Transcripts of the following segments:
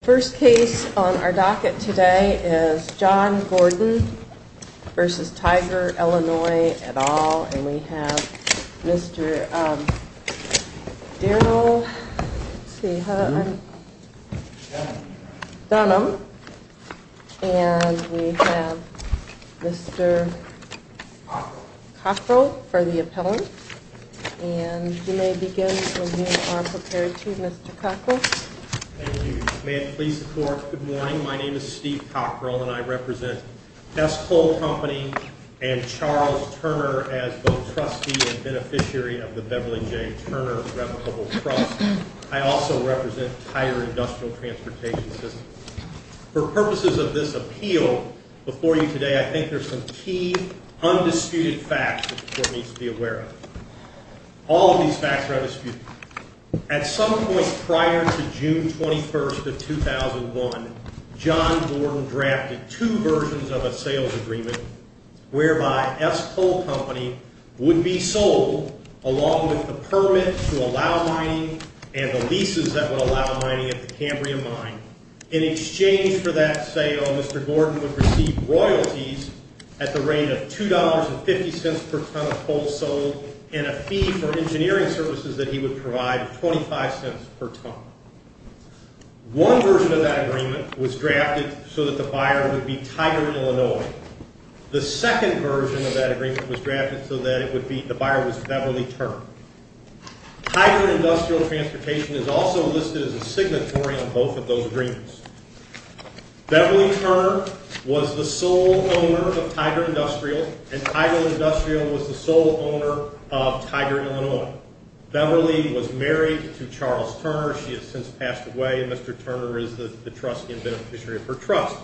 First case on our docket today is John Gordon v. Tiger Illinois, et al., and we have Mr. Darryl Dunham, and we have Mr. Cockrell for the appellant, and you may begin when you are prepared to, Mr. Cockrell. Thank you. May it please the court, good morning. My name is Steve Cockrell, and I represent S. Cole Company and Charles Turner as both trustee and beneficiary of the Beverly J. Turner Replicable Trust. I also represent Tiger Industrial Transportation System. For purposes of this appeal before you today, I think there's some key, undisputed facts that the court needs to be aware of. All of these facts are undisputed. At some point prior to June 21st of 2001, John Gordon drafted two versions of a sales agreement whereby S. Cole Company would be sold along with the permit to allow mining and the leases that would allow mining at the Cambrian Mine. In exchange for that sale, Mr. Gordon would receive royalties at the rate of $2.50 per ton of coal sold and a fee for engineering services that he would provide of $.25 per ton. One version of that agreement was drafted so that the buyer would be Tiger, Illinois. The second version of that agreement was drafted so that the buyer was Beverly Turner. Tiger Industrial Transportation is also listed as a signatory on both of those agreements. Beverly Turner was the sole owner of Tiger Industrial, and Tiger Industrial was the sole owner of Tiger, Illinois. Beverly was married to Charles Turner. She has since passed away, and Mr. Turner is the trustee and beneficiary of her trust.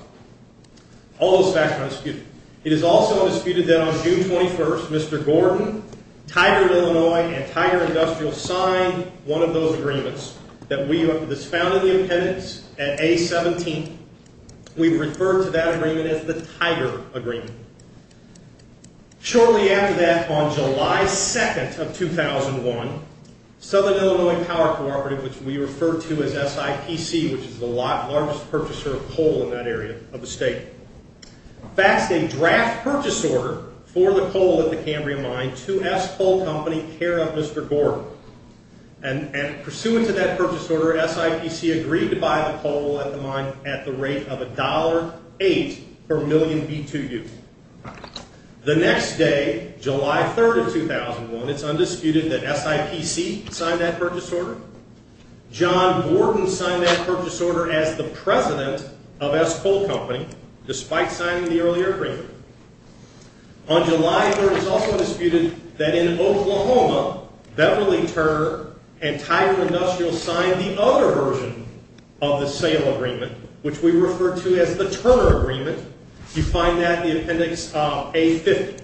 All those facts are undisputed. It is also undisputed that on June 21st, Mr. Gordon, Tiger, Illinois, and Tiger Industrial signed one of those agreements that was found in the appendix at A-17. We refer to that agreement as the Tiger Agreement. Shortly after that, on July 2nd of 2001, Southern Illinois Power Cooperative, which we refer to as SIPC, which is the largest purchaser of coal in that area of the state, passed a draft purchase order for the coal at the Cambrian Mine to S. Coal Company, care of Mr. Gordon. And pursuant to that purchase order, SIPC agreed to buy the coal at the mine at the rate of $1.08 per million B2U. The next day, July 3rd of 2001, it's undisputed that SIPC signed that purchase order. John Gordon signed that purchase order as the president of S. Coal Company, despite signing the earlier agreement. On July 3rd, it's also undisputed that in Oklahoma, Beverly Turner and Tiger Industrial signed the other version of the sale agreement, which we refer to as the Turner Agreement. You find that in the appendix of A-50.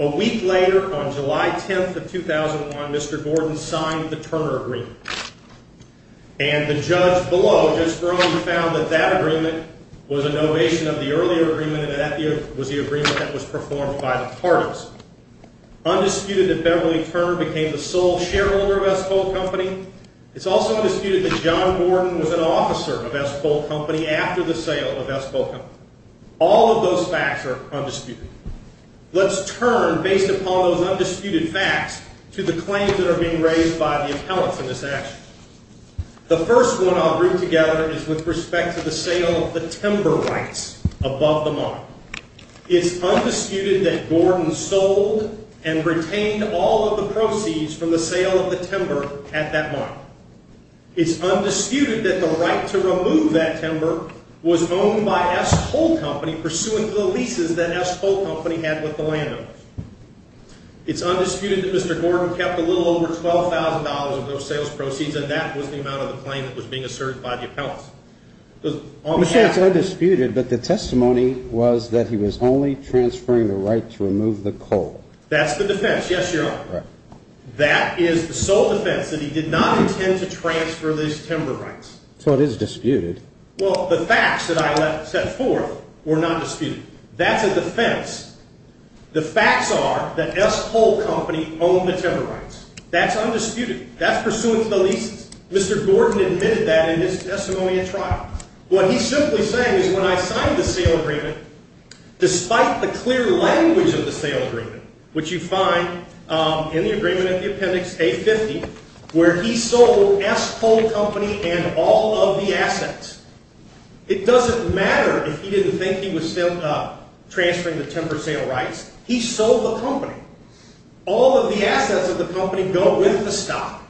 A week later, on July 10th of 2001, Mr. Gordon signed the Turner Agreement. And the judge below just earlier found that that agreement was an ovation of the earlier agreement and that that was the agreement that was performed by the parties. Undisputed that Beverly Turner became the sole shareholder of S. Coal Company. It's also undisputed that John Gordon was an officer of S. Coal Company after the sale of S. Coal Company. All of those facts are undisputed. Let's turn, based upon those undisputed facts, to the claims that are being raised by the appellants in this action. The first one I'll group together is with respect to the sale of the timber rights above the mine. It's undisputed that Gordon sold and retained all of the proceeds from the sale of the timber at that mine. It's undisputed that the right to remove that timber was owned by S. Coal Company, pursuant to the leases that S. Coal Company had with the landowners. It's undisputed that Mr. Gordon kept a little over $12,000 of those sales proceeds, and that was the amount of the claim that was being asserted by the appellants. It's undisputed, but the testimony was that he was only transferring the right to remove the coal. That's the defense, yes, Your Honor. That is the sole defense, that he did not intend to transfer those timber rights. So it is disputed. Well, the facts that I set forth were not disputed. That's a defense. The facts are that S. Coal Company owned the timber rights. That's undisputed. That's pursuant to the leases. Mr. Gordon admitted that in his testimony at trial. What he's simply saying is when I signed the sale agreement, despite the clear language of the sale agreement, which you find in the agreement in the appendix A-50, where he sold S. Coal Company and all of the assets, it doesn't matter if he didn't think he was transferring the timber sale rights. He sold the company. All of the assets of the company go with the stock.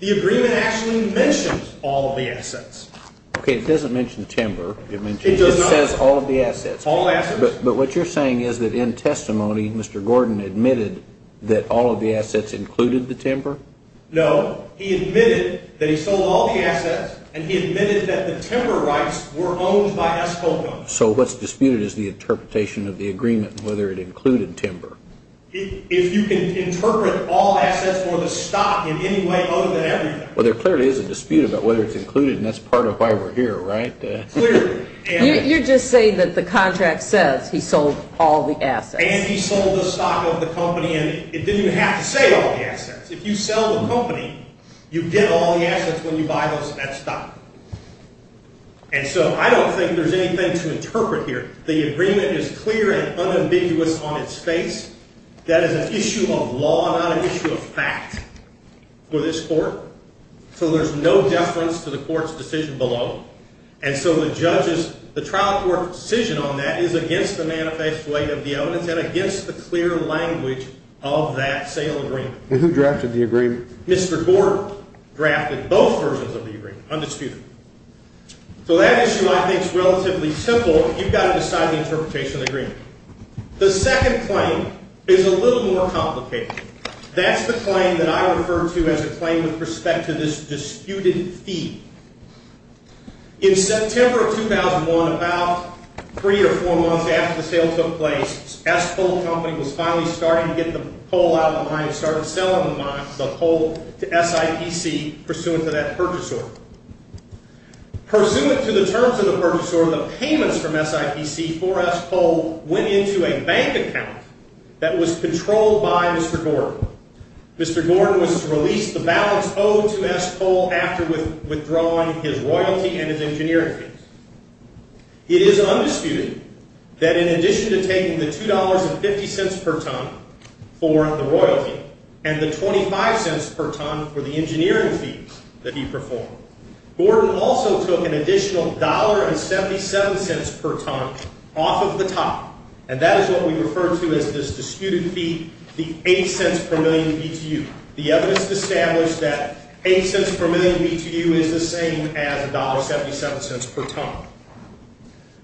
The agreement actually mentions all of the assets. Okay, it doesn't mention timber. It says all of the assets. All assets. But what you're saying is that in testimony, Mr. Gordon admitted that all of the assets included the timber? No. He admitted that he sold all the assets, and he admitted that the timber rights were owned by S. Coal Company. So what's disputed is the interpretation of the agreement and whether it included timber. If you can interpret all assets for the stock in any way other than everything. Well, there clearly is a dispute about whether it's included, and that's part of why we're here, right? Clearly. You're just saying that the contract says he sold all the assets. And he sold the stock of the company, and it didn't have to say all the assets. If you sell the company, you get all the assets when you buy most of that stock. And so I don't think there's anything to interpret here. The agreement is clear and unambiguous on its face. That is an issue of law, not an issue of fact for this court. So there's no deference to the court's decision below. And so the trial court's decision on that is against the manifest way of the evidence and against the clear language of that sale agreement. Who drafted the agreement? Mr. Gordon drafted both versions of the agreement, undisputed. So that issue, I think, is relatively simple. You've got to decide the interpretation of the agreement. The second claim is a little more complicated. That's the claim that I refer to as a claim with respect to this disputed fee. In September of 2001, about three or four months after the sale took place, S-Coal Company was finally starting to get the coal out of the mine and started selling the coal to SIPC pursuant to that purchase order. Pursuant to the terms of the purchase order, the payments from SIPC for S-Coal went into a bank account that was controlled by Mr. Gordon. Mr. Gordon was to release the balance owed to S-Coal after withdrawing his royalty and his engineering fees. It is undisputed that in addition to taking the $2.50 per ton for the royalty and the $0.25 per ton for the engineering fees that he performed, Gordon also took an additional $1.77 per ton off of the top. And that is what we refer to as this disputed fee, the $0.08 per million BTU. The evidence established that $0.08 per million BTU is the same as $1.77 per ton.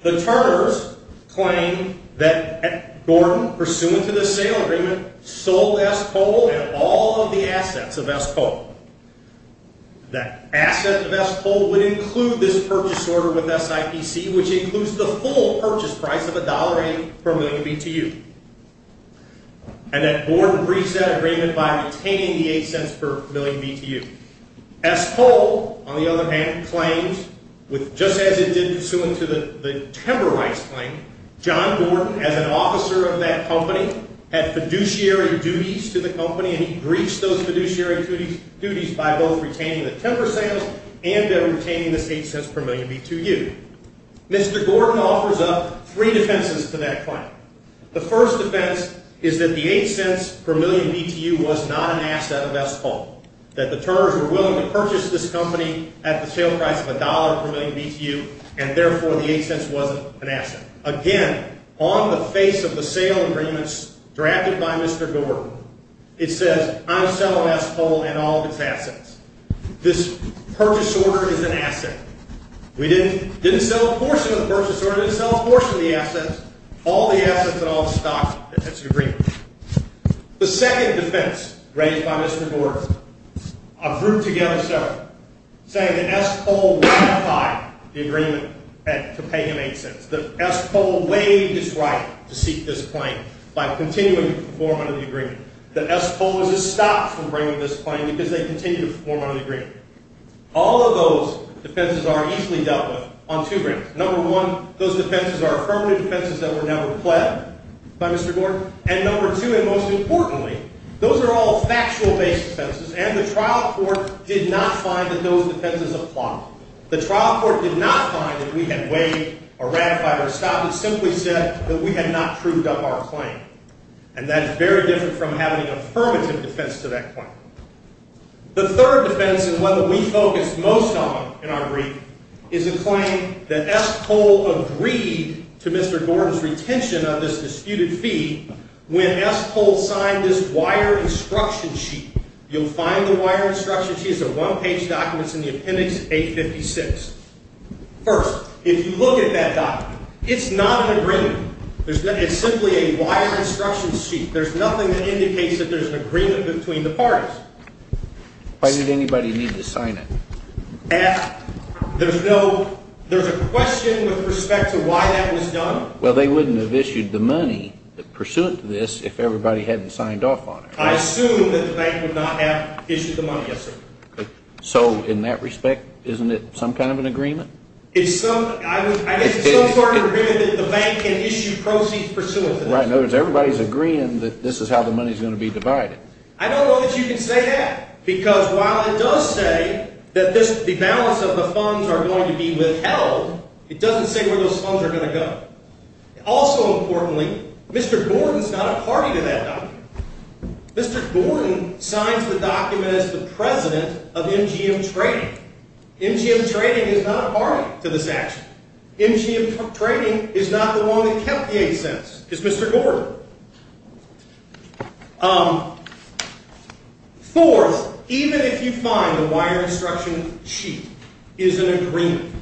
The turnovers claim that Gordon, pursuant to the sale agreement, sold S-Coal and all of the assets of S-Coal. That asset of S-Coal would include this purchase order with SIPC, which includes the full purchase price of $1.08 per million BTU. And that Gordon breached that agreement by retaining the $0.08 per million BTU. S-Coal, on the other hand, claims, just as it did pursuant to the timber rights claim, John Gordon, as an officer of that company, had fiduciary duties to the company, and he breached those fiduciary duties by both retaining the timber sales and by retaining this $0.08 per million BTU. Mr. Gordon offers up three defenses to that claim. The first defense is that the $0.08 per million BTU was not an asset of S-Coal, that the turnovers were willing to purchase this company at the sale price of $1 per million BTU, and therefore the $0.08 wasn't an asset. Again, on the face of the sale agreements drafted by Mr. Gordon, it says, I'm selling S-Coal and all of its assets. This purchase order is an asset. We didn't sell a portion of the purchase order. We didn't sell a portion of the assets. All the assets and all the stock that fits the agreement. The second defense raised by Mr. Gordon, a group together of several, saying that S-Coal ratified the agreement to pay him $0.08, that S-Coal waived his right to seek this claim by continuing to perform under the agreement, that S-Coal was just stopped from bringing this claim because they continued to perform under the agreement. All of those defenses are easily dealt with on two grounds. Number one, those defenses are affirmative defenses that were never pled by Mr. Gordon. And number two, and most importantly, those are all factual-based defenses, and the trial court did not find that those defenses apply. The trial court did not find that we had waived or ratified or stopped. It simply said that we had not proved up our claim. And that is very different from having an affirmative defense to that claim. The third defense, and one that we focused most on in our brief, is a claim that S-Coal agreed to Mr. Gordon's retention on this disputed fee when S-Coal signed this wire instruction sheet. You'll find the wire instruction sheet. It's a one-page document. It's in the appendix 856. First, if you look at that document, it's not an agreement. It's simply a wire instruction sheet. There's nothing that indicates that there's an agreement between the parties. Why did anybody need to sign it? There's a question with respect to why that was done. Well, they wouldn't have issued the money pursuant to this if everybody hadn't signed off on it. I assume that the bank would not have issued the money. Yes, sir. So in that respect, isn't it some kind of an agreement? I guess it's some sort of agreement that the bank can issue proceeds pursuant to this. In other words, everybody's agreeing that this is how the money is going to be divided. I don't know that you can say that because while it does say that the balance of the funds are going to be withheld, it doesn't say where those funds are going to go. Also importantly, Mr. Gordon is not a party to that document. Mr. Gordon signs the document as the president of MGM Trading. MGM Trading is not a party to this action. MGM Trading is not the one that kept the 8 cents. It's Mr. Gordon. Fourth, even if you find the wire instruction sheet is an agreement,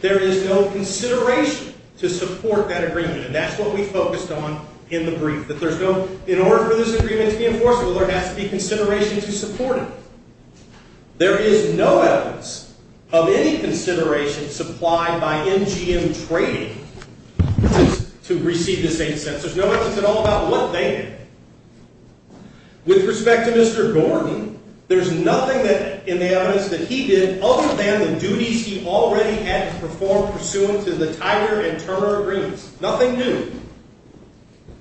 there is no consideration to support that agreement, and that's what we focused on in the brief. In order for this agreement to be enforceable, there has to be consideration to support it. There is no evidence of any consideration supplied by MGM Trading to receive this 8 cents. There's no evidence at all about what they did. With respect to Mr. Gordon, there's nothing in the evidence that he did other than the duties he already had to perform pursuant to the Tiger and Turner agreements. Nothing new.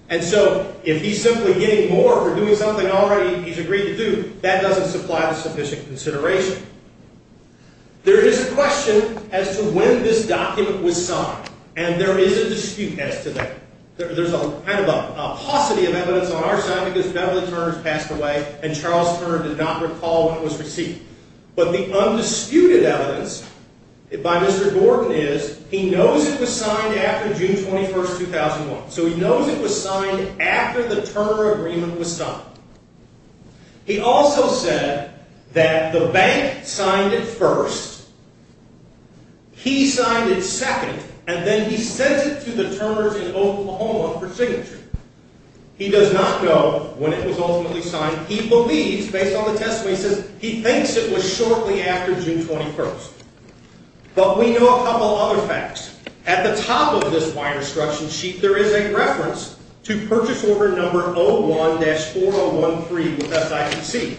And so if he's simply getting more for doing something already he's agreed to do, that doesn't supply the sufficient consideration. There is a question as to when this document was signed, and there is a dispute as to that. There's a kind of a paucity of evidence on our side because Beverly Turner has passed away and Charles Turner did not recall when it was received. But the undisputed evidence by Mr. Gordon is he knows it was signed after June 21, 2001. So he knows it was signed after the Turner agreement was signed. He also said that the bank signed it first, he signed it second, and then he sends it to the Turners in Oklahoma for signature. He does not know when it was ultimately signed. He believes, based on the testimony he says, he thinks it was shortly after June 21. But we know a couple other facts. At the top of this wine instruction sheet there is a reference to purchase order number 01-4013 with SIPC.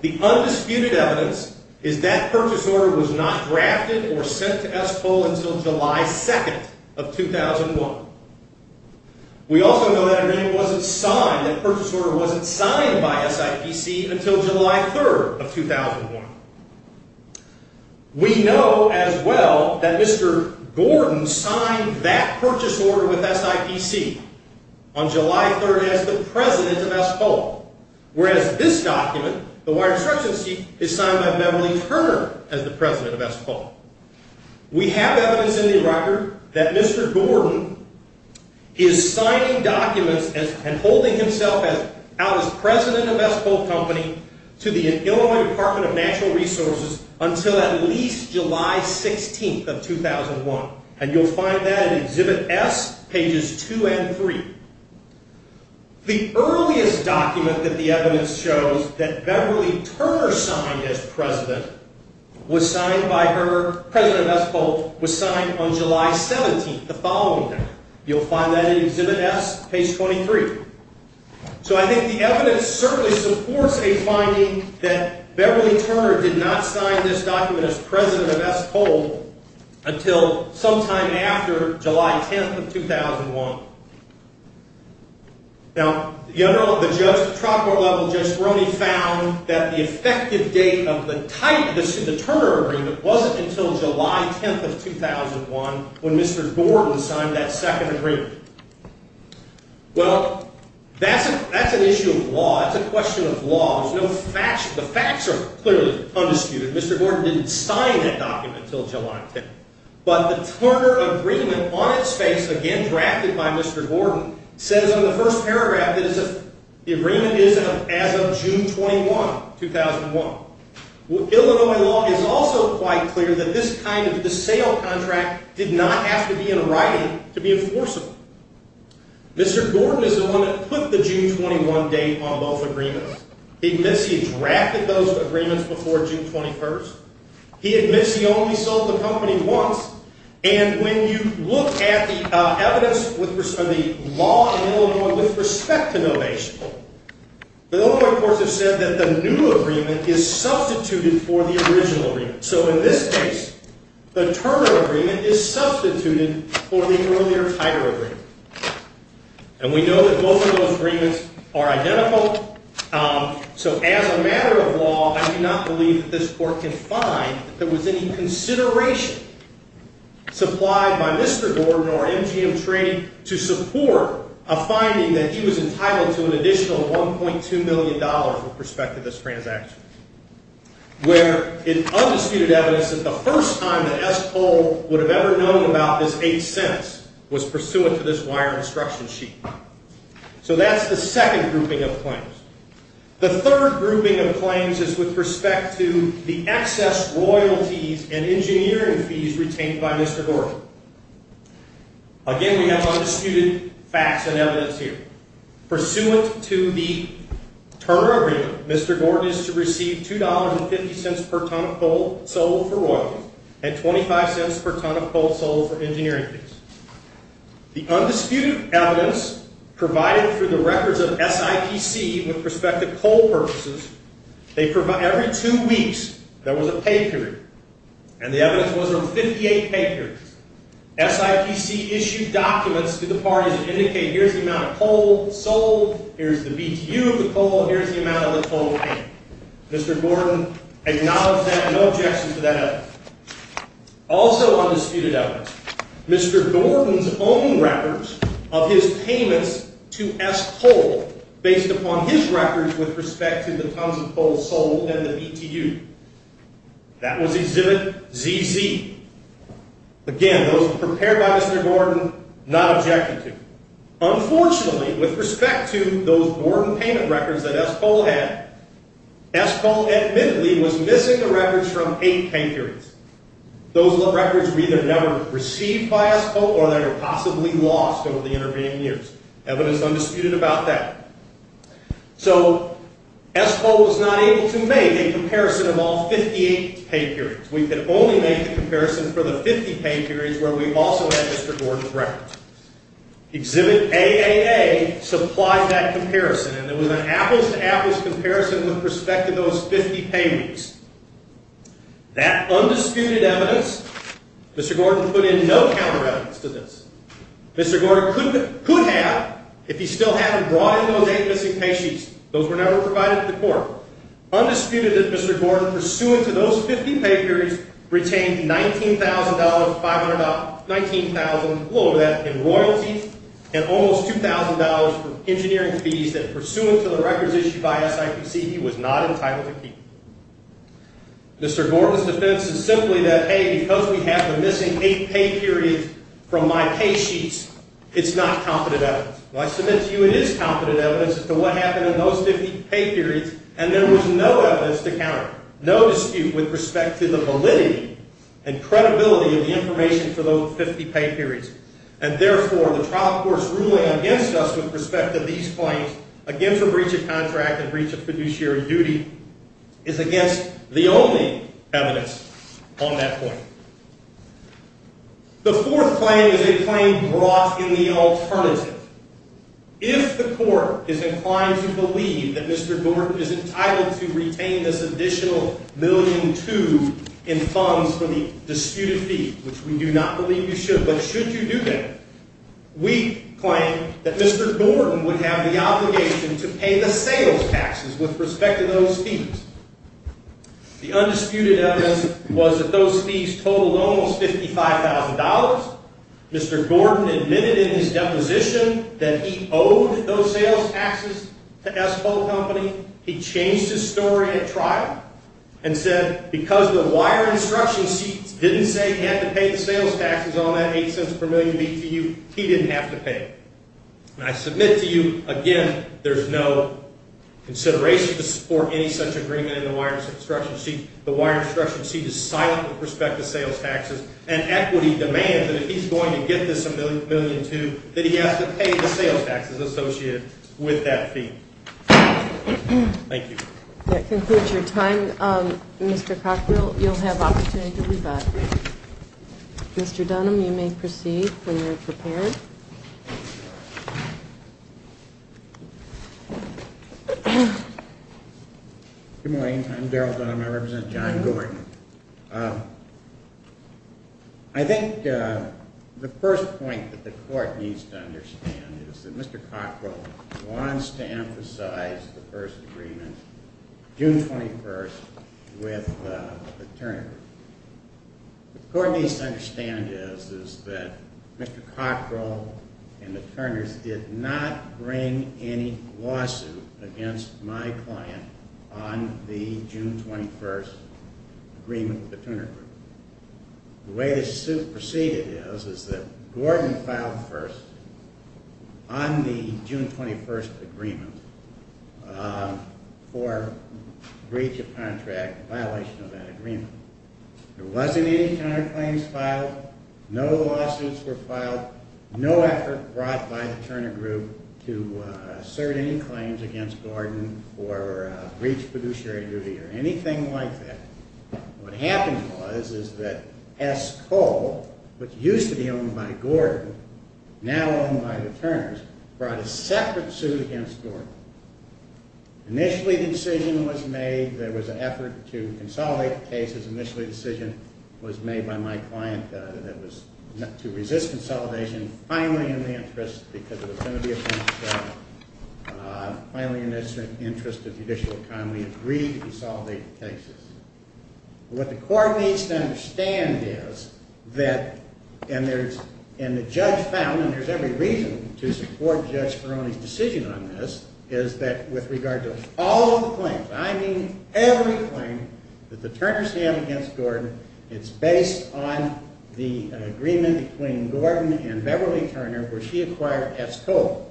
The undisputed evidence is that purchase order was not drafted or sent to S-Pole until July 2, 2001. We also know that agreement wasn't signed, that purchase order wasn't signed by SIPC until July 3, 2001. We know as well that Mr. Gordon signed that purchase order with SIPC on July 3 as the president of S-Pole. Whereas this document, the wine instruction sheet, is signed by Beverly Turner as the president of S-Pole. We have evidence in the record that Mr. Gordon is signing documents and holding himself out as president of S-Pole Company to the Illinois Department of Natural Resources until at least July 16, 2001. And you'll find that in Exhibit S, pages 2 and 3. The earliest document that the evidence shows that Beverly Turner signed as president, President of S-Pole, was signed on July 17, the following day. You'll find that in Exhibit S, page 23. So I think the evidence certainly supports a finding that Beverly Turner did not sign this document as president of S-Pole until sometime after July 10, 2001. Now, the judge at the trial court level, Judge Speroni, found that the effective date of the Turner agreement wasn't until July 10, 2001, when Mr. Gordon signed that second agreement. Well, that's an issue of law. That's a question of law. The facts are clearly undisputed. Mr. Gordon didn't sign that document until July 10. But the Turner agreement on its face, again drafted by Mr. Gordon, says on the first paragraph that the agreement is as of June 21, 2001. Illinois law is also quite clear that this kind of sale contract did not have to be in writing to be enforceable. Mr. Gordon is the one that put the June 21 date on both agreements. He admits he drafted those agreements before June 21. He admits he only sold the company once. And when you look at the evidence of the law in Illinois with respect to donation, the Illinois courts have said that the new agreement is substituted for the original agreement. So in this case, the Turner agreement is substituted for the earlier Titor agreement. And we know that both of those agreements are identical. So as a matter of law, I do not believe that this court can find that there was any consideration supplied by Mr. Gordon or MGM Trading to support a finding that he was entitled to an additional $1.2 million with respect to this transaction. Where it's undisputed evidence that the first time that S. Cole would have ever known about this eighth sentence was pursuant to this wire instruction sheet. So that's the second grouping of claims. The third grouping of claims is with respect to the excess royalties and engineering fees retained by Mr. Gordon. Again, we have undisputed facts and evidence here. Pursuant to the Turner agreement, Mr. Gordon is to receive $2.50 per ton of coal sold for royalties and $0.25 per ton of coal sold for engineering fees. The undisputed evidence provided for the records of SIPC with respect to coal purposes, every two weeks there was a pay period. And the evidence was a 58-pay period. SIPC issued documents to the parties that indicate here's the amount of coal sold, here's the BTU of the coal, here's the amount of the coal paid. Mr. Gordon acknowledged that and no objections to that evidence. Also undisputed evidence, Mr. Gordon's own records of his payments to S. Cole based upon his records with respect to the tons of coal sold and the BTU. That was exhibit ZZ. Again, those prepared by Mr. Gordon, not objecting to. Unfortunately, with respect to those Gordon payment records that S. Cole had, S. Cole admittedly was missing the records from eight pay periods. Those records were either never received by S. Cole or they were possibly lost over the intervening years. Evidence undisputed about that. So S. Cole was not able to make a comparison of all 58 pay periods. We could only make a comparison for the 50 pay periods where we also had Mr. Gordon's records. Exhibit AAA supplied that comparison and there was an apples to apples comparison with respect to those 50 pay periods. That undisputed evidence, Mr. Gordon put in no counter evidence to this. Mr. Gordon could have, if he still hadn't brought in those eight missing pay sheets, those were never provided to the court. Undisputed that Mr. Gordon, pursuant to those 50 pay periods, retained $19,000 in royalties and almost $2,000 in engineering fees that, pursuant to the records issued by SIPC, he was not entitled to keep. Mr. Gordon's defense is simply that, hey, because we have the missing eight pay periods from my pay sheets, it's not competent evidence. Well, I submit to you it is competent evidence as to what happened in those 50 pay periods and there was no evidence to counter. No dispute with respect to the validity and credibility of the information for those 50 pay periods. And, therefore, the trial court's ruling against us with respect to these claims, against the breach of contract and breach of fiduciary duty, is against the only evidence on that point. The fourth claim is a claim brought in the alternative. If the court is inclined to believe that Mr. Gordon is entitled to retain this additional $1.2 million in funds for the disputed fee, which we do not believe you should, but should you do that, we claim that Mr. Gordon would have the obligation to pay the sales taxes with respect to those fees. The undisputed evidence was that those fees totaled almost $55,000. Mr. Gordon admitted in his deposition that he owed those sales taxes to S Pole Company. He changed his story at trial and said because the wire instruction sheet didn't say he had to pay the sales taxes on that $0.08 per million to you, he didn't have to pay it. And I submit to you, again, there's no consideration to support any such agreement in the wire instruction sheet. The wire instruction sheet is silent with respect to sales taxes, and equity demands that if he's going to get this $1.2 million, that he has to pay the sales taxes associated with that fee. Thank you. That concludes your time. Mr. Cockrell, you'll have opportunity to rebut. Mr. Dunham, you may proceed when you're prepared. Good morning. I'm Darrell Dunham. I represent John Gordon. I think the first point that the court needs to understand is that Mr. Cockrell wants to emphasize the first agreement, June 21st, with the attorney. What the court needs to understand is that Mr. Cockrell and the attorneys did not bring any lawsuit against my client on the June 21st agreement with the attorney. The way the suit proceeded is that Gordon filed first on the June 21st agreement for breach of contract, violation of that agreement. There wasn't any counterclaims filed. No lawsuits were filed. No effort brought by the attorney group to assert any claims against Gordon for breach of fiduciary duty or anything like that. What happened was is that S. Cole, which used to be owned by Gordon, now owned by the attorneys, brought a separate suit against Gordon. Initially, the decision was made. There was an effort to consolidate the cases. Initially, the decision was made by my client that was to resist consolidation, finally in the interest because it was going to be a financial struggle, finally in the interest of judicial economy, agreed to consolidate the cases. What the court needs to understand is that, and the judge found, and there's every reason to support Judge Ferroni's decision on this, is that with regard to all of the claims, I mean every claim, that the Turners have against Gordon, it's based on the agreement between Gordon and Beverly Turner where she acquired S. Cole.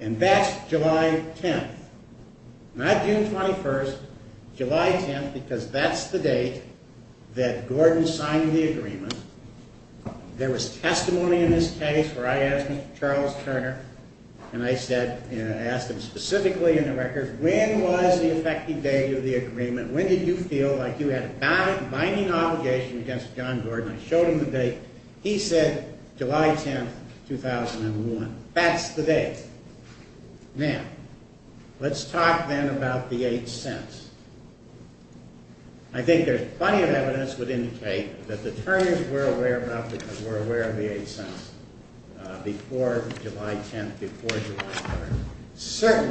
And that's July 10th. Not June 21st. July 10th because that's the date that Gordon signed the agreement. There was testimony in this case where I asked Charles Turner, and I asked him specifically in the records, when was the effective date of the agreement? When did you feel like you had a binding obligation against John Gordon? I showed him the date. He said July 10th, 2001. That's the date. Now, let's talk then about the 8 cents. I think there's plenty of evidence that would indicate that the Turners were aware of the 8 cents before July 10th, before July 1st.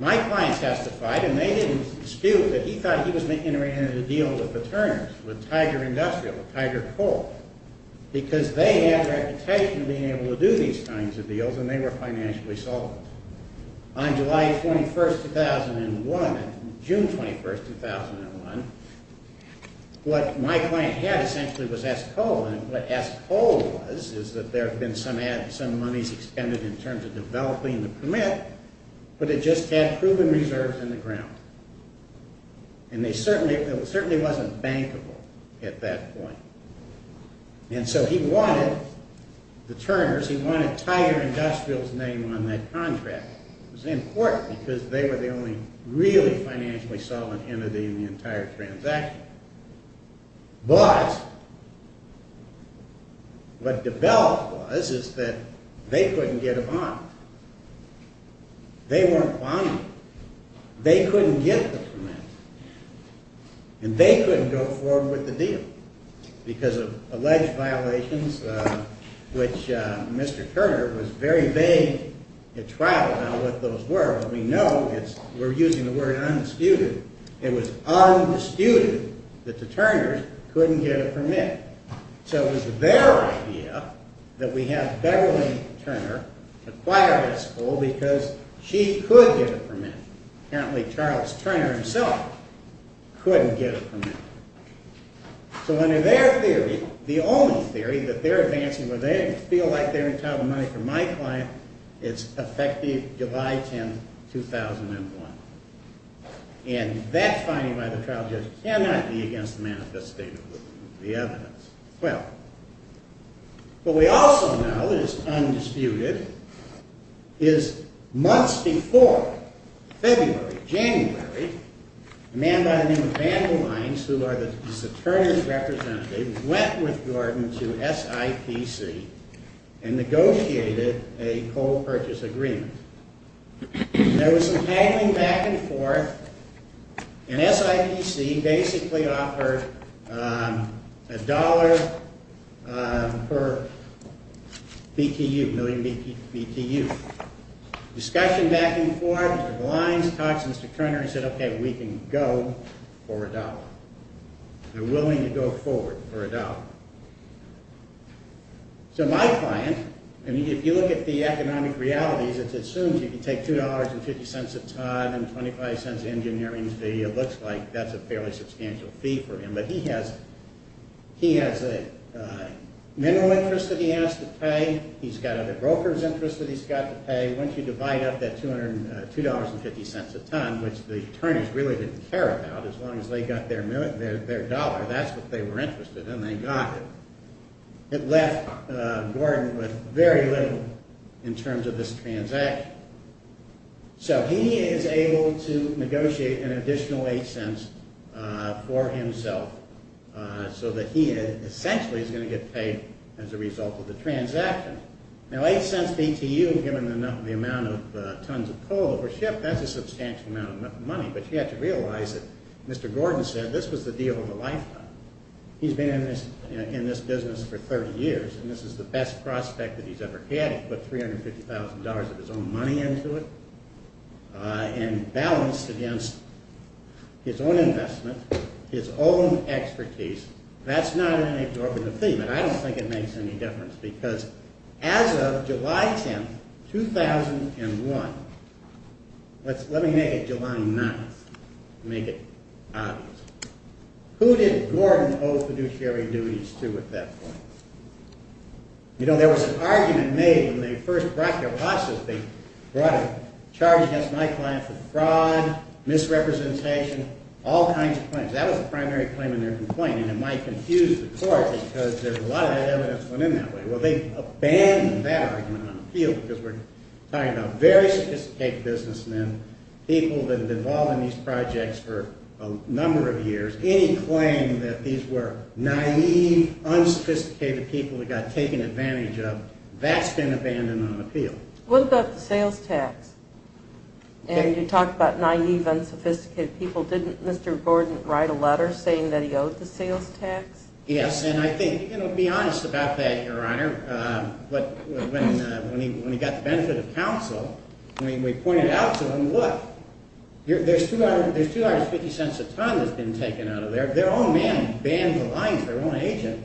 My client testified, and they didn't dispute that he thought he was interested in a deal with the Turners, with Tiger Industrial, with Tiger Coal, because they had a reputation of being able to do these kinds of deals and they were financially solvent. On July 21st, 2001, June 21st, 2001, what my client had essentially was S. Cole, and what S. Cole was is that there had been some monies expended in terms of developing the permit, but it just had proven reserves in the ground. And it certainly wasn't bankable at that point. And so he wanted the Turners, he wanted Tiger Industrial's name on that contract. It was important because they were the only really financially solvent entity in the entire transaction. But what developed was is that they couldn't get a bond. They weren't bonded. They couldn't get the permit. And they couldn't go forward with the deal because of alleged violations, which Mr. Turner was very vague at trial about what those were. But we know, we're using the word undisputed, it was undisputed that the Turners couldn't get a permit. So it was their idea that we have Beverly Turner acquire S. Cole because she could get a permit. Apparently Charles Turner himself couldn't get a permit. So under their theory, the only theory that they're advancing where they feel like they're entitled to money from my client is effective July 10th, 2001. And that finding by the trial judge cannot be against the manifestation of the evidence. Well, what we also know is undisputed is months before February, January, a man by the name of Vandal Lines, who was a Turner's representative, went with Gordon to SIPC and negotiated a cold purchase agreement. There was some haggling back and forth, and SIPC basically offered a dollar per BTU, million BTU. Discussion back and forth, Mr. Lines talked to Mr. Turner and said, okay, we can go for a dollar. They're willing to go forward for a dollar. So my client, and if you look at the economic realities, it assumes you can take $2.50 a ton and 25 cents engineering fee. It looks like that's a fairly substantial fee for him. But he has a mineral interest that he has to pay. He's got a broker's interest that he's got to pay. Once you divide up that $2.50 a ton, which the Turners really didn't care about, as long as they got their dollar, that's what they were interested in, and they got it. It left Gordon with very little in terms of this transaction. So he is able to negotiate an additional $0.08 for himself so that he essentially is going to get paid as a result of the transaction. Now, $0.08 BTU, given the amount of tons of coal over ship, that's a substantial amount of money. But you have to realize that Mr. Gordon said this was the deal of a lifetime. He's been in this business for 30 years, and this is the best prospect that he's ever had. He put $350,000 of his own money into it and balanced against his own investment, his own expertise. That's not an absorbent fee, but I don't think it makes any difference because as of July 10, 2001, let me make it July 9th, make it obvious. Who did Gordon owe fiduciary duties to at that point? You know, there was an argument made when they first brought their losses. They brought a charge against my client for fraud, misrepresentation, all kinds of things. That was the primary claim in their complaint, and it might confuse the court because a lot of that evidence went in that way. Well, they abandoned that argument on appeal because we're talking about very sophisticated businessmen, people that have been involved in these projects for a number of years. Any claim that these were naive, unsophisticated people that got taken advantage of, that's been abandoned on appeal. What about the sales tax? And you talk about naive, unsophisticated people. Didn't Mr. Gordon write a letter saying that he owed the sales tax? Yes, and I think, you know, be honest about that, Your Honor. When he got the benefit of counsel, we pointed out to him, look, there's $2.50 a ton that's been taken out of there. Their own man banned the lines, their own agent.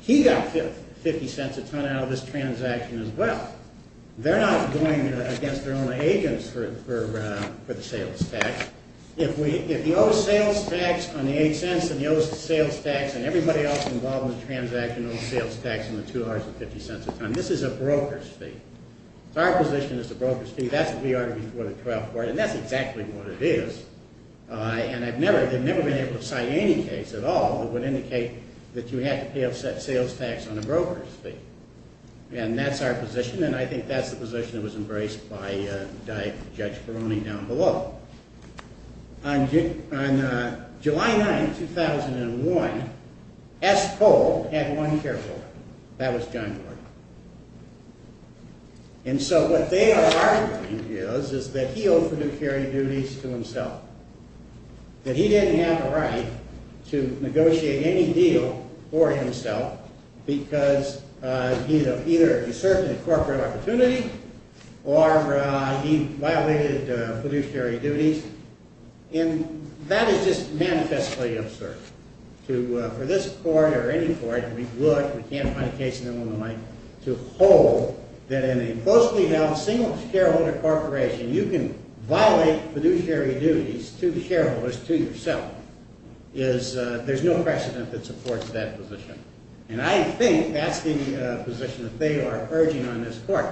He got $0.50 a ton out of this transaction as well. They're not going against their own agents for the sales tax. If you owe sales tax on the $0.08 and you owe sales tax and everybody else involved in the transaction owes sales tax on the $2.50 a ton, this is a broker's fee. It's our position it's a broker's fee. That's what we ordered before the trial court, and that's exactly what it is. And I've never been able to cite any case at all that would indicate that you have to pay a sales tax on a broker's fee. And that's our position, and I think that's the position that was embraced by Judge Peroni down below. On July 9, 2001, S. Cole had one caretaker. That was John Gordon. And so what they are arguing is that he owed fiduciary duties to himself, that he didn't have a right to negotiate any deal for himself because either he served in a corporate opportunity or he violated fiduciary duties. And that is just manifestly absurd. For this court or any court, we've looked. We can't find a case in Illinois to hold that in a closely held single shareholder corporation you can violate fiduciary duties to shareholders to yourself. There's no precedent that supports that position. And I think that's the position that they are urging on this court.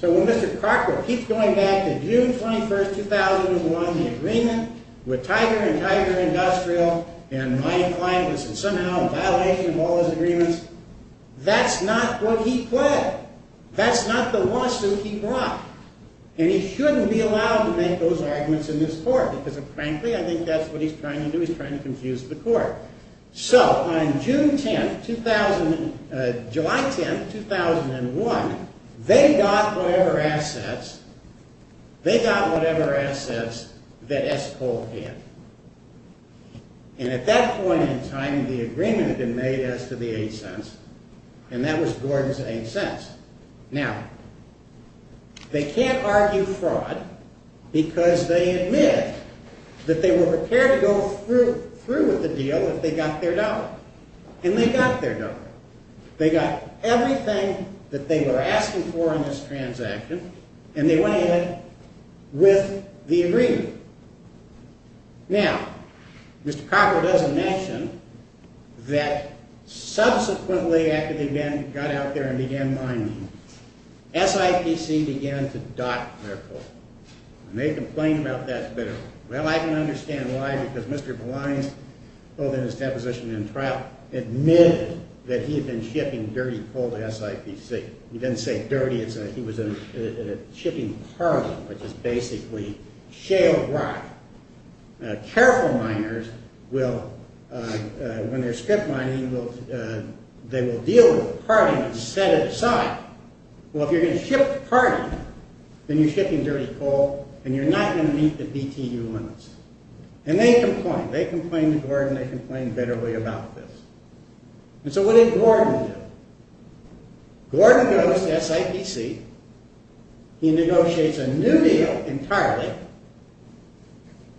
So when Mr. Carper keeps going back to June 21, 2001, the agreement with Tiger and Tiger Industrial and my client was somehow a violation of all those agreements, that's not what he pled. That's not the lawsuit he brought. And he shouldn't be allowed to make those arguments in this court because, frankly, I think that's what he's trying to do. He's trying to confuse the court. So on July 10, 2001, they got whatever assets that S. Cole had. And at that point in time, the agreement had been made as to the $0.08, and that was Gordon's $0.08. Now, they can't argue fraud because they admit that they were prepared to go through with the deal if they got their dollar. And they got their dollar. They got everything that they were asking for in this transaction, and they went ahead with the agreement. Now, Mr. Carper does a mention that subsequently after they got out there and began mining, SIPC began to dock their coal. And they complained about that bitterly. Well, I can understand why because Mr. Blines, both in his deposition and in trial, admitted that he had been shipping dirty coal to SIPC. He didn't say dirty. He was in a shipping parlor, which is basically shale rock. Careful miners, when they're strip mining, they will deal with the parting and set it aside. Well, if you're going to ship parting, then you're shipping dirty coal, and you're not going to meet the BTU limits. And they complained. They complained to Gordon. They complained bitterly about this. And so what did Gordon do? Gordon goes to SIPC. He negotiates a new deal entirely.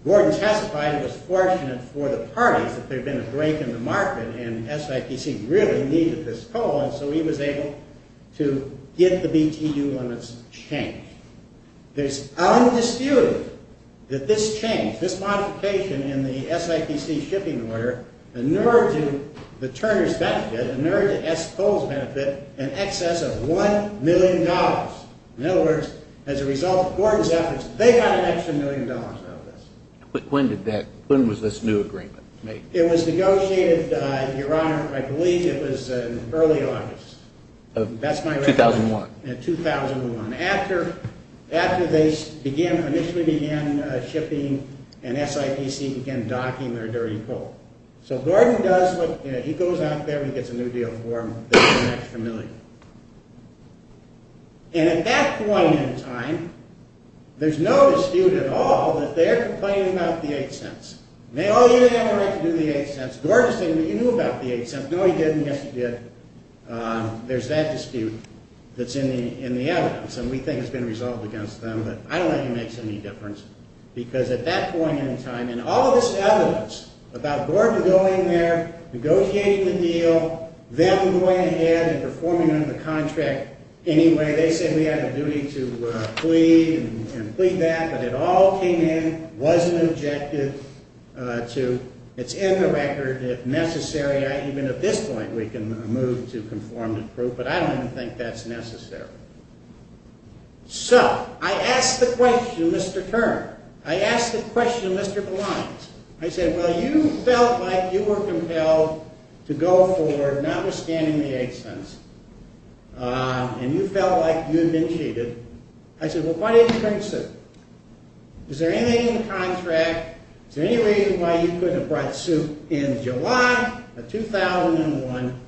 Gordon testified he was fortunate for the parties that there had been a break in the market, and SIPC really needed this coal. And so he was able to get the BTU limits changed. There's undisputed that this change, this modification in the SIPC shipping order, inured to the Turner's benefit, inured to S. Coal's benefit, an excess of $1 million. In other words, as a result of Gordon's efforts, they got an extra million dollars out of this. But when did that, when was this new agreement made? It was negotiated, Your Honor, I believe it was in early August. That's my recollection. 2001. In 2001. After they initially began shipping, and SIPC began docking their dirty coal. So Gordon does what, he goes out there, he gets a new deal for them. They get an extra million. And at that point in time, there's no dispute at all that they're complaining about the $0.08. Oh, you didn't have the right to do the $0.08. Gordon's saying, but you knew about the $0.08. No, he didn't. Yes, he did. There's that dispute that's in the evidence. And we think it's been resolved against them. But I don't think it makes any difference. Because at that point in time, and all of this evidence about Gordon going there, negotiating the deal, them going ahead and performing under the contract anyway. They say we had a duty to plead and plead that. But it all came in, was an objective to, it's in the record, if necessary, even at this point, we can move to conform to proof. But I don't even think that's necessary. So, I asked the question, Mr. Turner. I asked the question, Mr. Belines. I said, well, you felt like you were compelled to go forward, notwithstanding the $0.08. And you felt like you had been cheated. I said, well, why didn't you bring suit? Is there anything in the contract, is there any reason why you couldn't have brought suit in July, of 2001,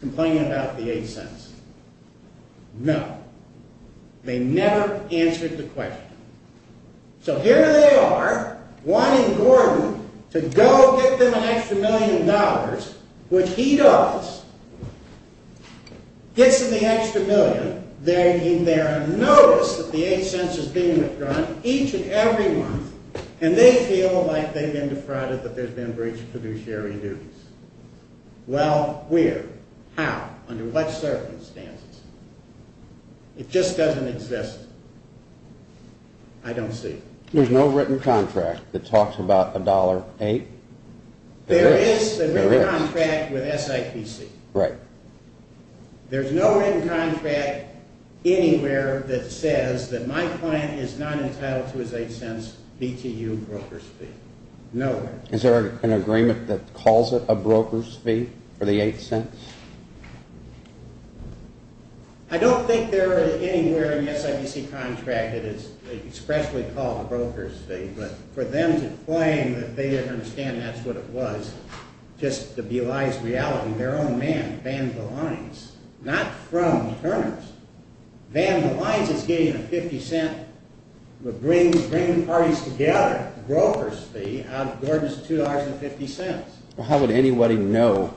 complaining about the $0.08? No. They never answered the question. So here they are, wanting Gordon to go get them an extra million dollars, which he does. Gets them the extra million. They're in there and notice that the $0.08 is being withdrawn each and every month. And they feel like they've been defrauded, that there's been breach of fiduciary duties. Well, where? How? Under what circumstances? It just doesn't exist. I don't see it. There's no written contract that talks about $1.08? There is a written contract with SIPC. Right. There's no written contract anywhere that says that my client is not entitled to his $0.08 BTU broker's fee. Nowhere. Is there an agreement that calls it a broker's fee for the $0.08? I don't think there is anywhere in the SIPC contract that it's expressly called a broker's fee. But for them to claim that they didn't understand that's what it was, just to belies reality, their own man banned the lines. Not from earners. Banned the lines, it's getting a $0.50. But bringing parties together, broker's fee, out of Gordon's $2.50. How would anybody know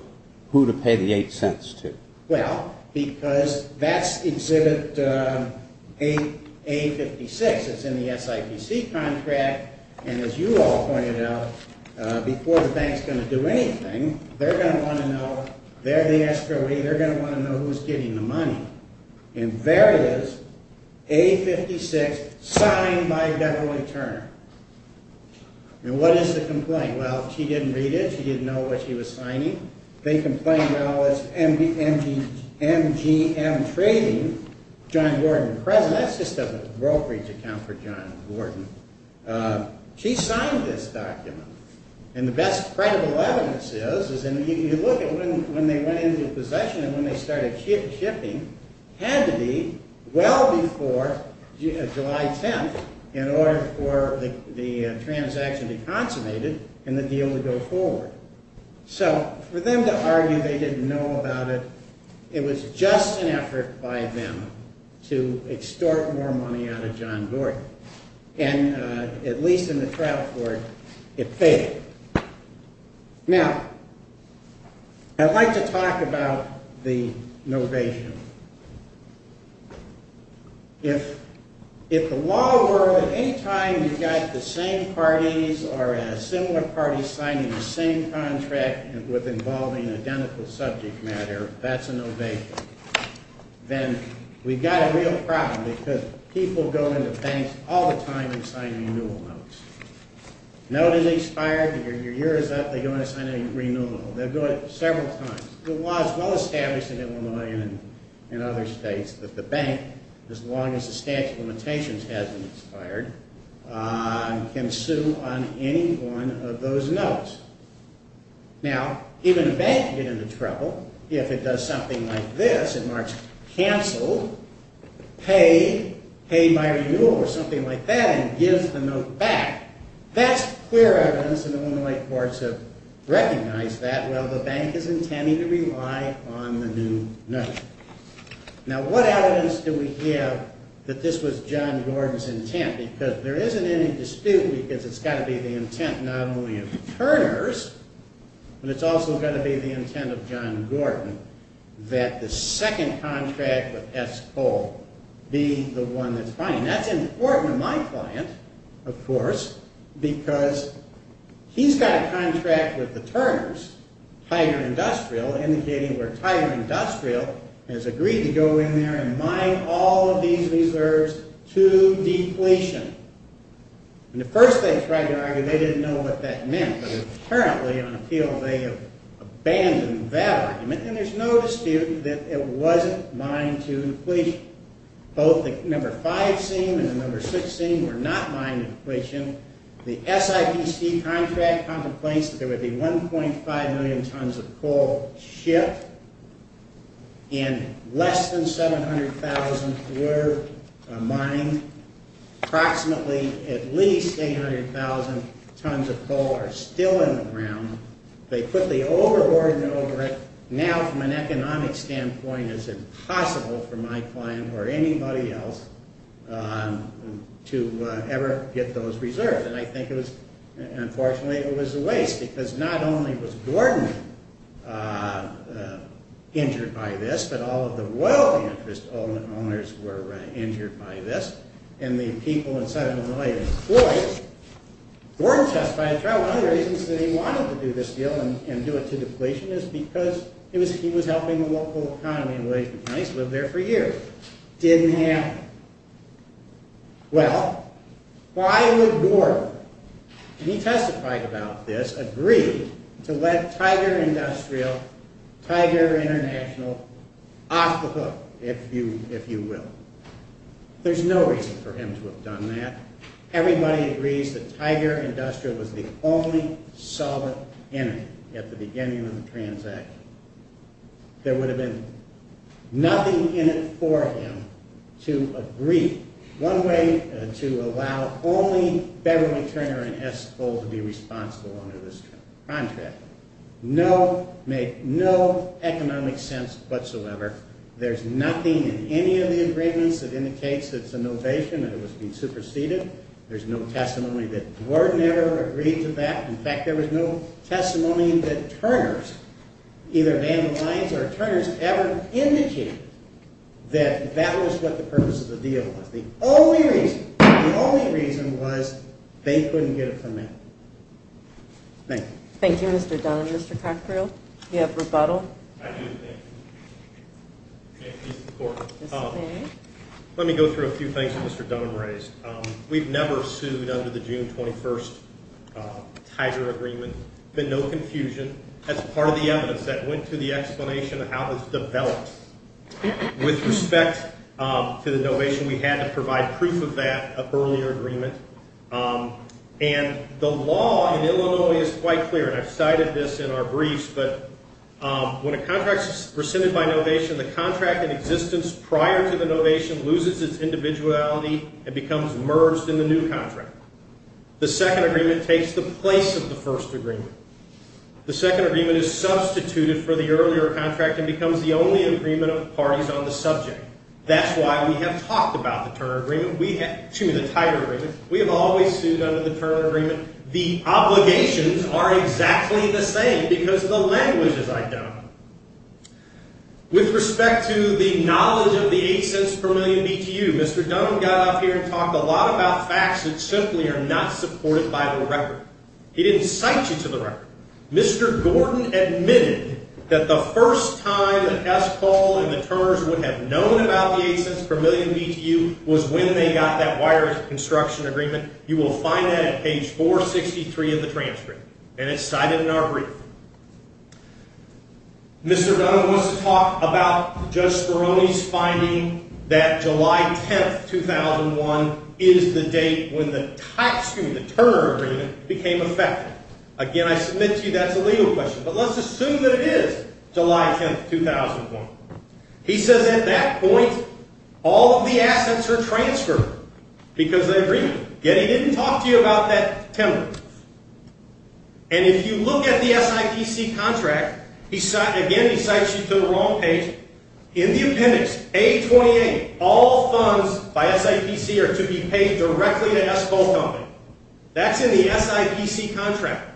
who to pay the $0.08 to? Well, because that's exhibit A56. It's in the SIPC contract. And as you all pointed out, before the bank's going to do anything, they're going to want to know. They're the escrow. They're going to want to know who's getting the money. And there it is, A56, signed by Beverly Turner. And what is the complaint? Well, she didn't read it. She didn't know what she was signing. They complained, well, it's MGM Trading, John Gordon present. That's just a brokerage account for John Gordon. She signed this document. And the best credible evidence is, you look at when they went into possession and when they started shipping, had to be well before July 10th in order for the transaction to be consummated and the deal to go forward. So for them to argue they didn't know about it, it was just an effort by them to extort more money out of John Gordon. And at least in the trial court, it failed. Now, I'd like to talk about the novation. If the law were that any time you got the same parties or a similar party signing the same contract with involving identical subject matter, that's a novation. Then we've got a real problem because people go into banks all the time and sign renewal notes. Note is expired, your year is up, they go in and sign a renewal note. They'll do it several times. The law is well established in Illinois and in other states that the bank, as long as the statute of limitations hasn't expired, can sue on any one of those notes. Now, even a bank can get into trouble if it does something like this and marks canceled, paid, paid by renewal or something like that and gives the note back. That's clear evidence and Illinois courts have recognized that while the bank is intending to rely on the new notion. Now, what evidence do we have that this was John Gordon's intent? Because there isn't any dispute because it's got to be the intent not only of Turner's, but it's also got to be the intent of John Gordon that the second contract with S. Cole be the one that's fined. That's important to my client, of course, because he's got a contract with the Turners, Tiger Industrial, indicating where Tiger Industrial has agreed to go in there and mine all of these reserves to depletion. And at first they tried to argue they didn't know what that meant, but apparently on appeal they have abandoned that argument and there's no dispute that it wasn't mined to depletion. Both the number 5 scene and the number 6 scene were not mined to depletion. The SIPC contract contemplates that there would be 1.5 million tons of coal shipped and less than 700,000 were mined. Approximately at least 800,000 tons of coal are still in the ground. They put the overboarding over it. Now, from an economic standpoint, it's impossible for my client or anybody else to ever get those reserves. And I think it was, unfortunately, it was a waste because not only was Gordon injured by this, but all of the world interest owners were injured by this and the people in South Carolina employed. Gordon testified throughout, one of the reasons that he wanted to do this deal and do it to depletion is because he was helping the local economy and Williamson County has lived there for years. Didn't happen. Well, why would Gordon? He testified about this, agreed to let Tiger Industrial, Tiger International, off the hook, if you will. There's no reason for him to have done that. Everybody agrees that Tiger Industrial was the only solid enemy at the beginning of the transaction. There would have been nothing in it for him to agree. One way to allow only Beverly Turner and S. Cole to be responsible under this contract. No, made no economic sense whatsoever. There's nothing in any of the agreements that indicates that it's a novation, that it was being superseded. There's no testimony that Gordon ever agreed to that. In fact, there was no testimony that Turner's, either Van der Lines or Turner's, ever indicated that that was what the purpose of the deal was. The only reason, the only reason was they couldn't get it from him. Thank you. Thank you, Mr. Dunham. Mr. Cockerell, do you have rebuttal? I do, thank you. May it please the Court. Mr. May. Let me go through a few things that Mr. Dunham raised. We've never sued under the June 21st Tiger agreement. There's been no confusion. That's part of the evidence that went to the explanation of how it was developed. With respect to the novation, we had to provide proof of that earlier agreement. And the law in Illinois is quite clear, and I've cited this in our briefs, but when a contract is rescinded by novation, the contract in existence prior to the novation loses its individuality and becomes merged in the new contract. The second agreement takes the place of the first agreement. The second agreement is substituted for the earlier contract and becomes the only agreement of parties on the subject. That's why we have talked about the Tiger agreement. We have always sued under the Tiger agreement. The obligations are exactly the same because the language is identical. With respect to the knowledge of the $0.08 per million BTU, Mr. Dunham got up here and talked a lot about facts that simply are not supported by the record. He didn't cite you to the record. Mr. Gordon admitted that the first time that Escol and the Turner's would have known about the $0.08 per million BTU was when they got that wires construction agreement. You will find that at page 463 of the transcript, and it's cited in our brief. Mr. Dunham wants to talk about Judge Speroni's finding that July 10, 2001, is the date when the Turner agreement became effective. Again, I submit to you that's a legal question, but let's assume that it is July 10, 2001. He says at that point, all of the assets are transferred because of the agreement. Yet he didn't talk to you about that 10 months. And if you look at the SIPC contract, again, he cites you to the wrong page. In the appendix, A28, all funds by SIPC are to be paid directly to Escol Company. That's in the SIPC contract.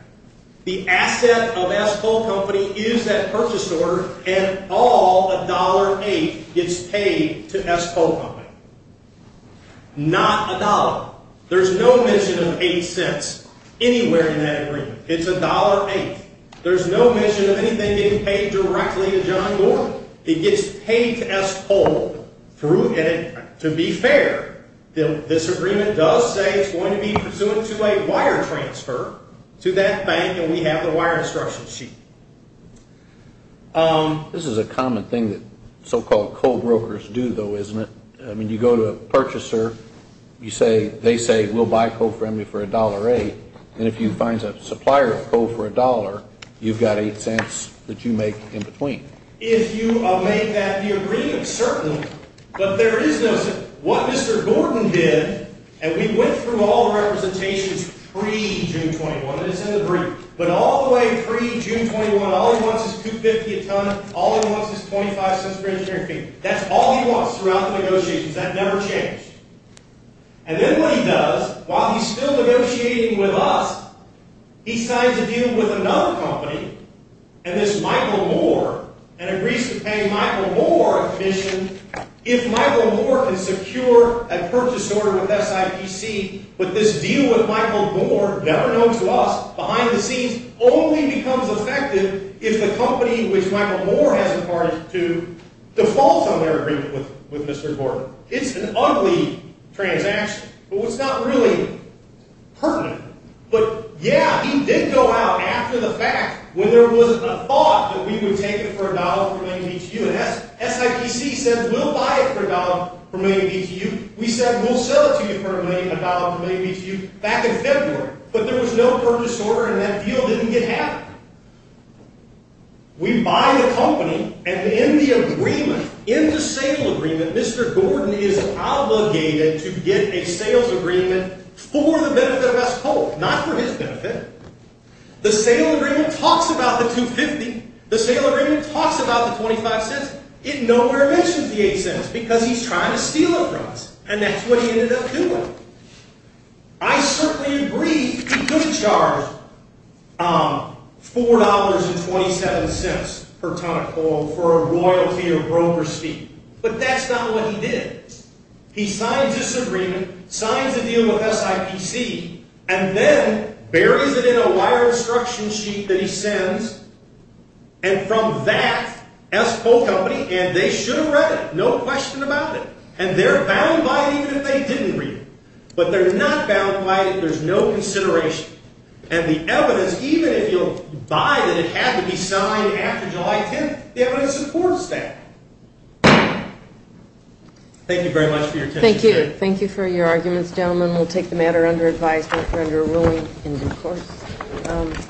The asset of Escol Company is that purchase order, and all $1.08 gets paid to Escol Company. Not $1.00. There's no mention of $0.08 anywhere in that agreement. It's $1.08. There's no mention of anything getting paid directly to John Gordon. It gets paid to Escol through, and to be fair, this agreement does say it's going to be pursuant to a wire transfer to that bank, and we have the wire instruction sheet. This is a common thing that so-called co-brokers do, though, isn't it? I mean, you go to a purchaser, they say, we'll buy co-friendly for $1.08, and if you find a supplier of co- for $1.00, you've got $0.08 that you make in between. If you make that the agreement, certainly, but there is no certain. What Mr. Gordon did, and we went through all the representations pre-June 21, and it's in the brief, but all the way pre-June 21, all he wants is $2.50 a ton, all he wants is $0.25 per engineering fee. That's all he wants throughout the negotiations. That never changed. And then what he does, while he's still negotiating with us, he signs a deal with another company, and this Michael Moore, and agrees to pay Michael Moore a commission if Michael Moore can secure a purchase order with SIPC, but this deal with Michael Moore, better known to us behind the scenes, only becomes effective if the company which Michael Moore has a part in to default on their agreement with Mr. Gordon. It's an ugly transaction, but it's not really pertinent. But, yeah, he did go out after the fact when there was a thought that we would take it for $1 per million BTU, and SIPC said, we'll buy it for $1 per million BTU. We said, we'll sell it to you for $1 per million BTU back in February, but there was no purchase order, and that deal didn't get happened. We buy the company, and in the agreement, in the sale agreement, Mr. Gordon is obligated to get a sales agreement for the benefit of S. Cole, not for his benefit. The sale agreement talks about the $2.50. The sale agreement talks about the $0.25. It nowhere mentions the $0.08 because he's trying to steal it from us, and that's what he ended up doing. I certainly agree, he could charge $4.27 per ton of coal for a royalty or broker's fee, but that's not what he did. He signed this agreement, signed the deal with SIPC, and then buries it in a wire instruction sheet that he sends, and from that, S. Cole Company, and they should have read it, no question about it, and they're bound by it even if they didn't read it, but they're not bound by it, there's no consideration, and the evidence, even if you buy that it had to be signed after July 10th, the evidence supports that. Thank you very much for your attention. Thank you. Thank you for your arguments, gentlemen. We'll take the matter under advisement or under a ruling in due course.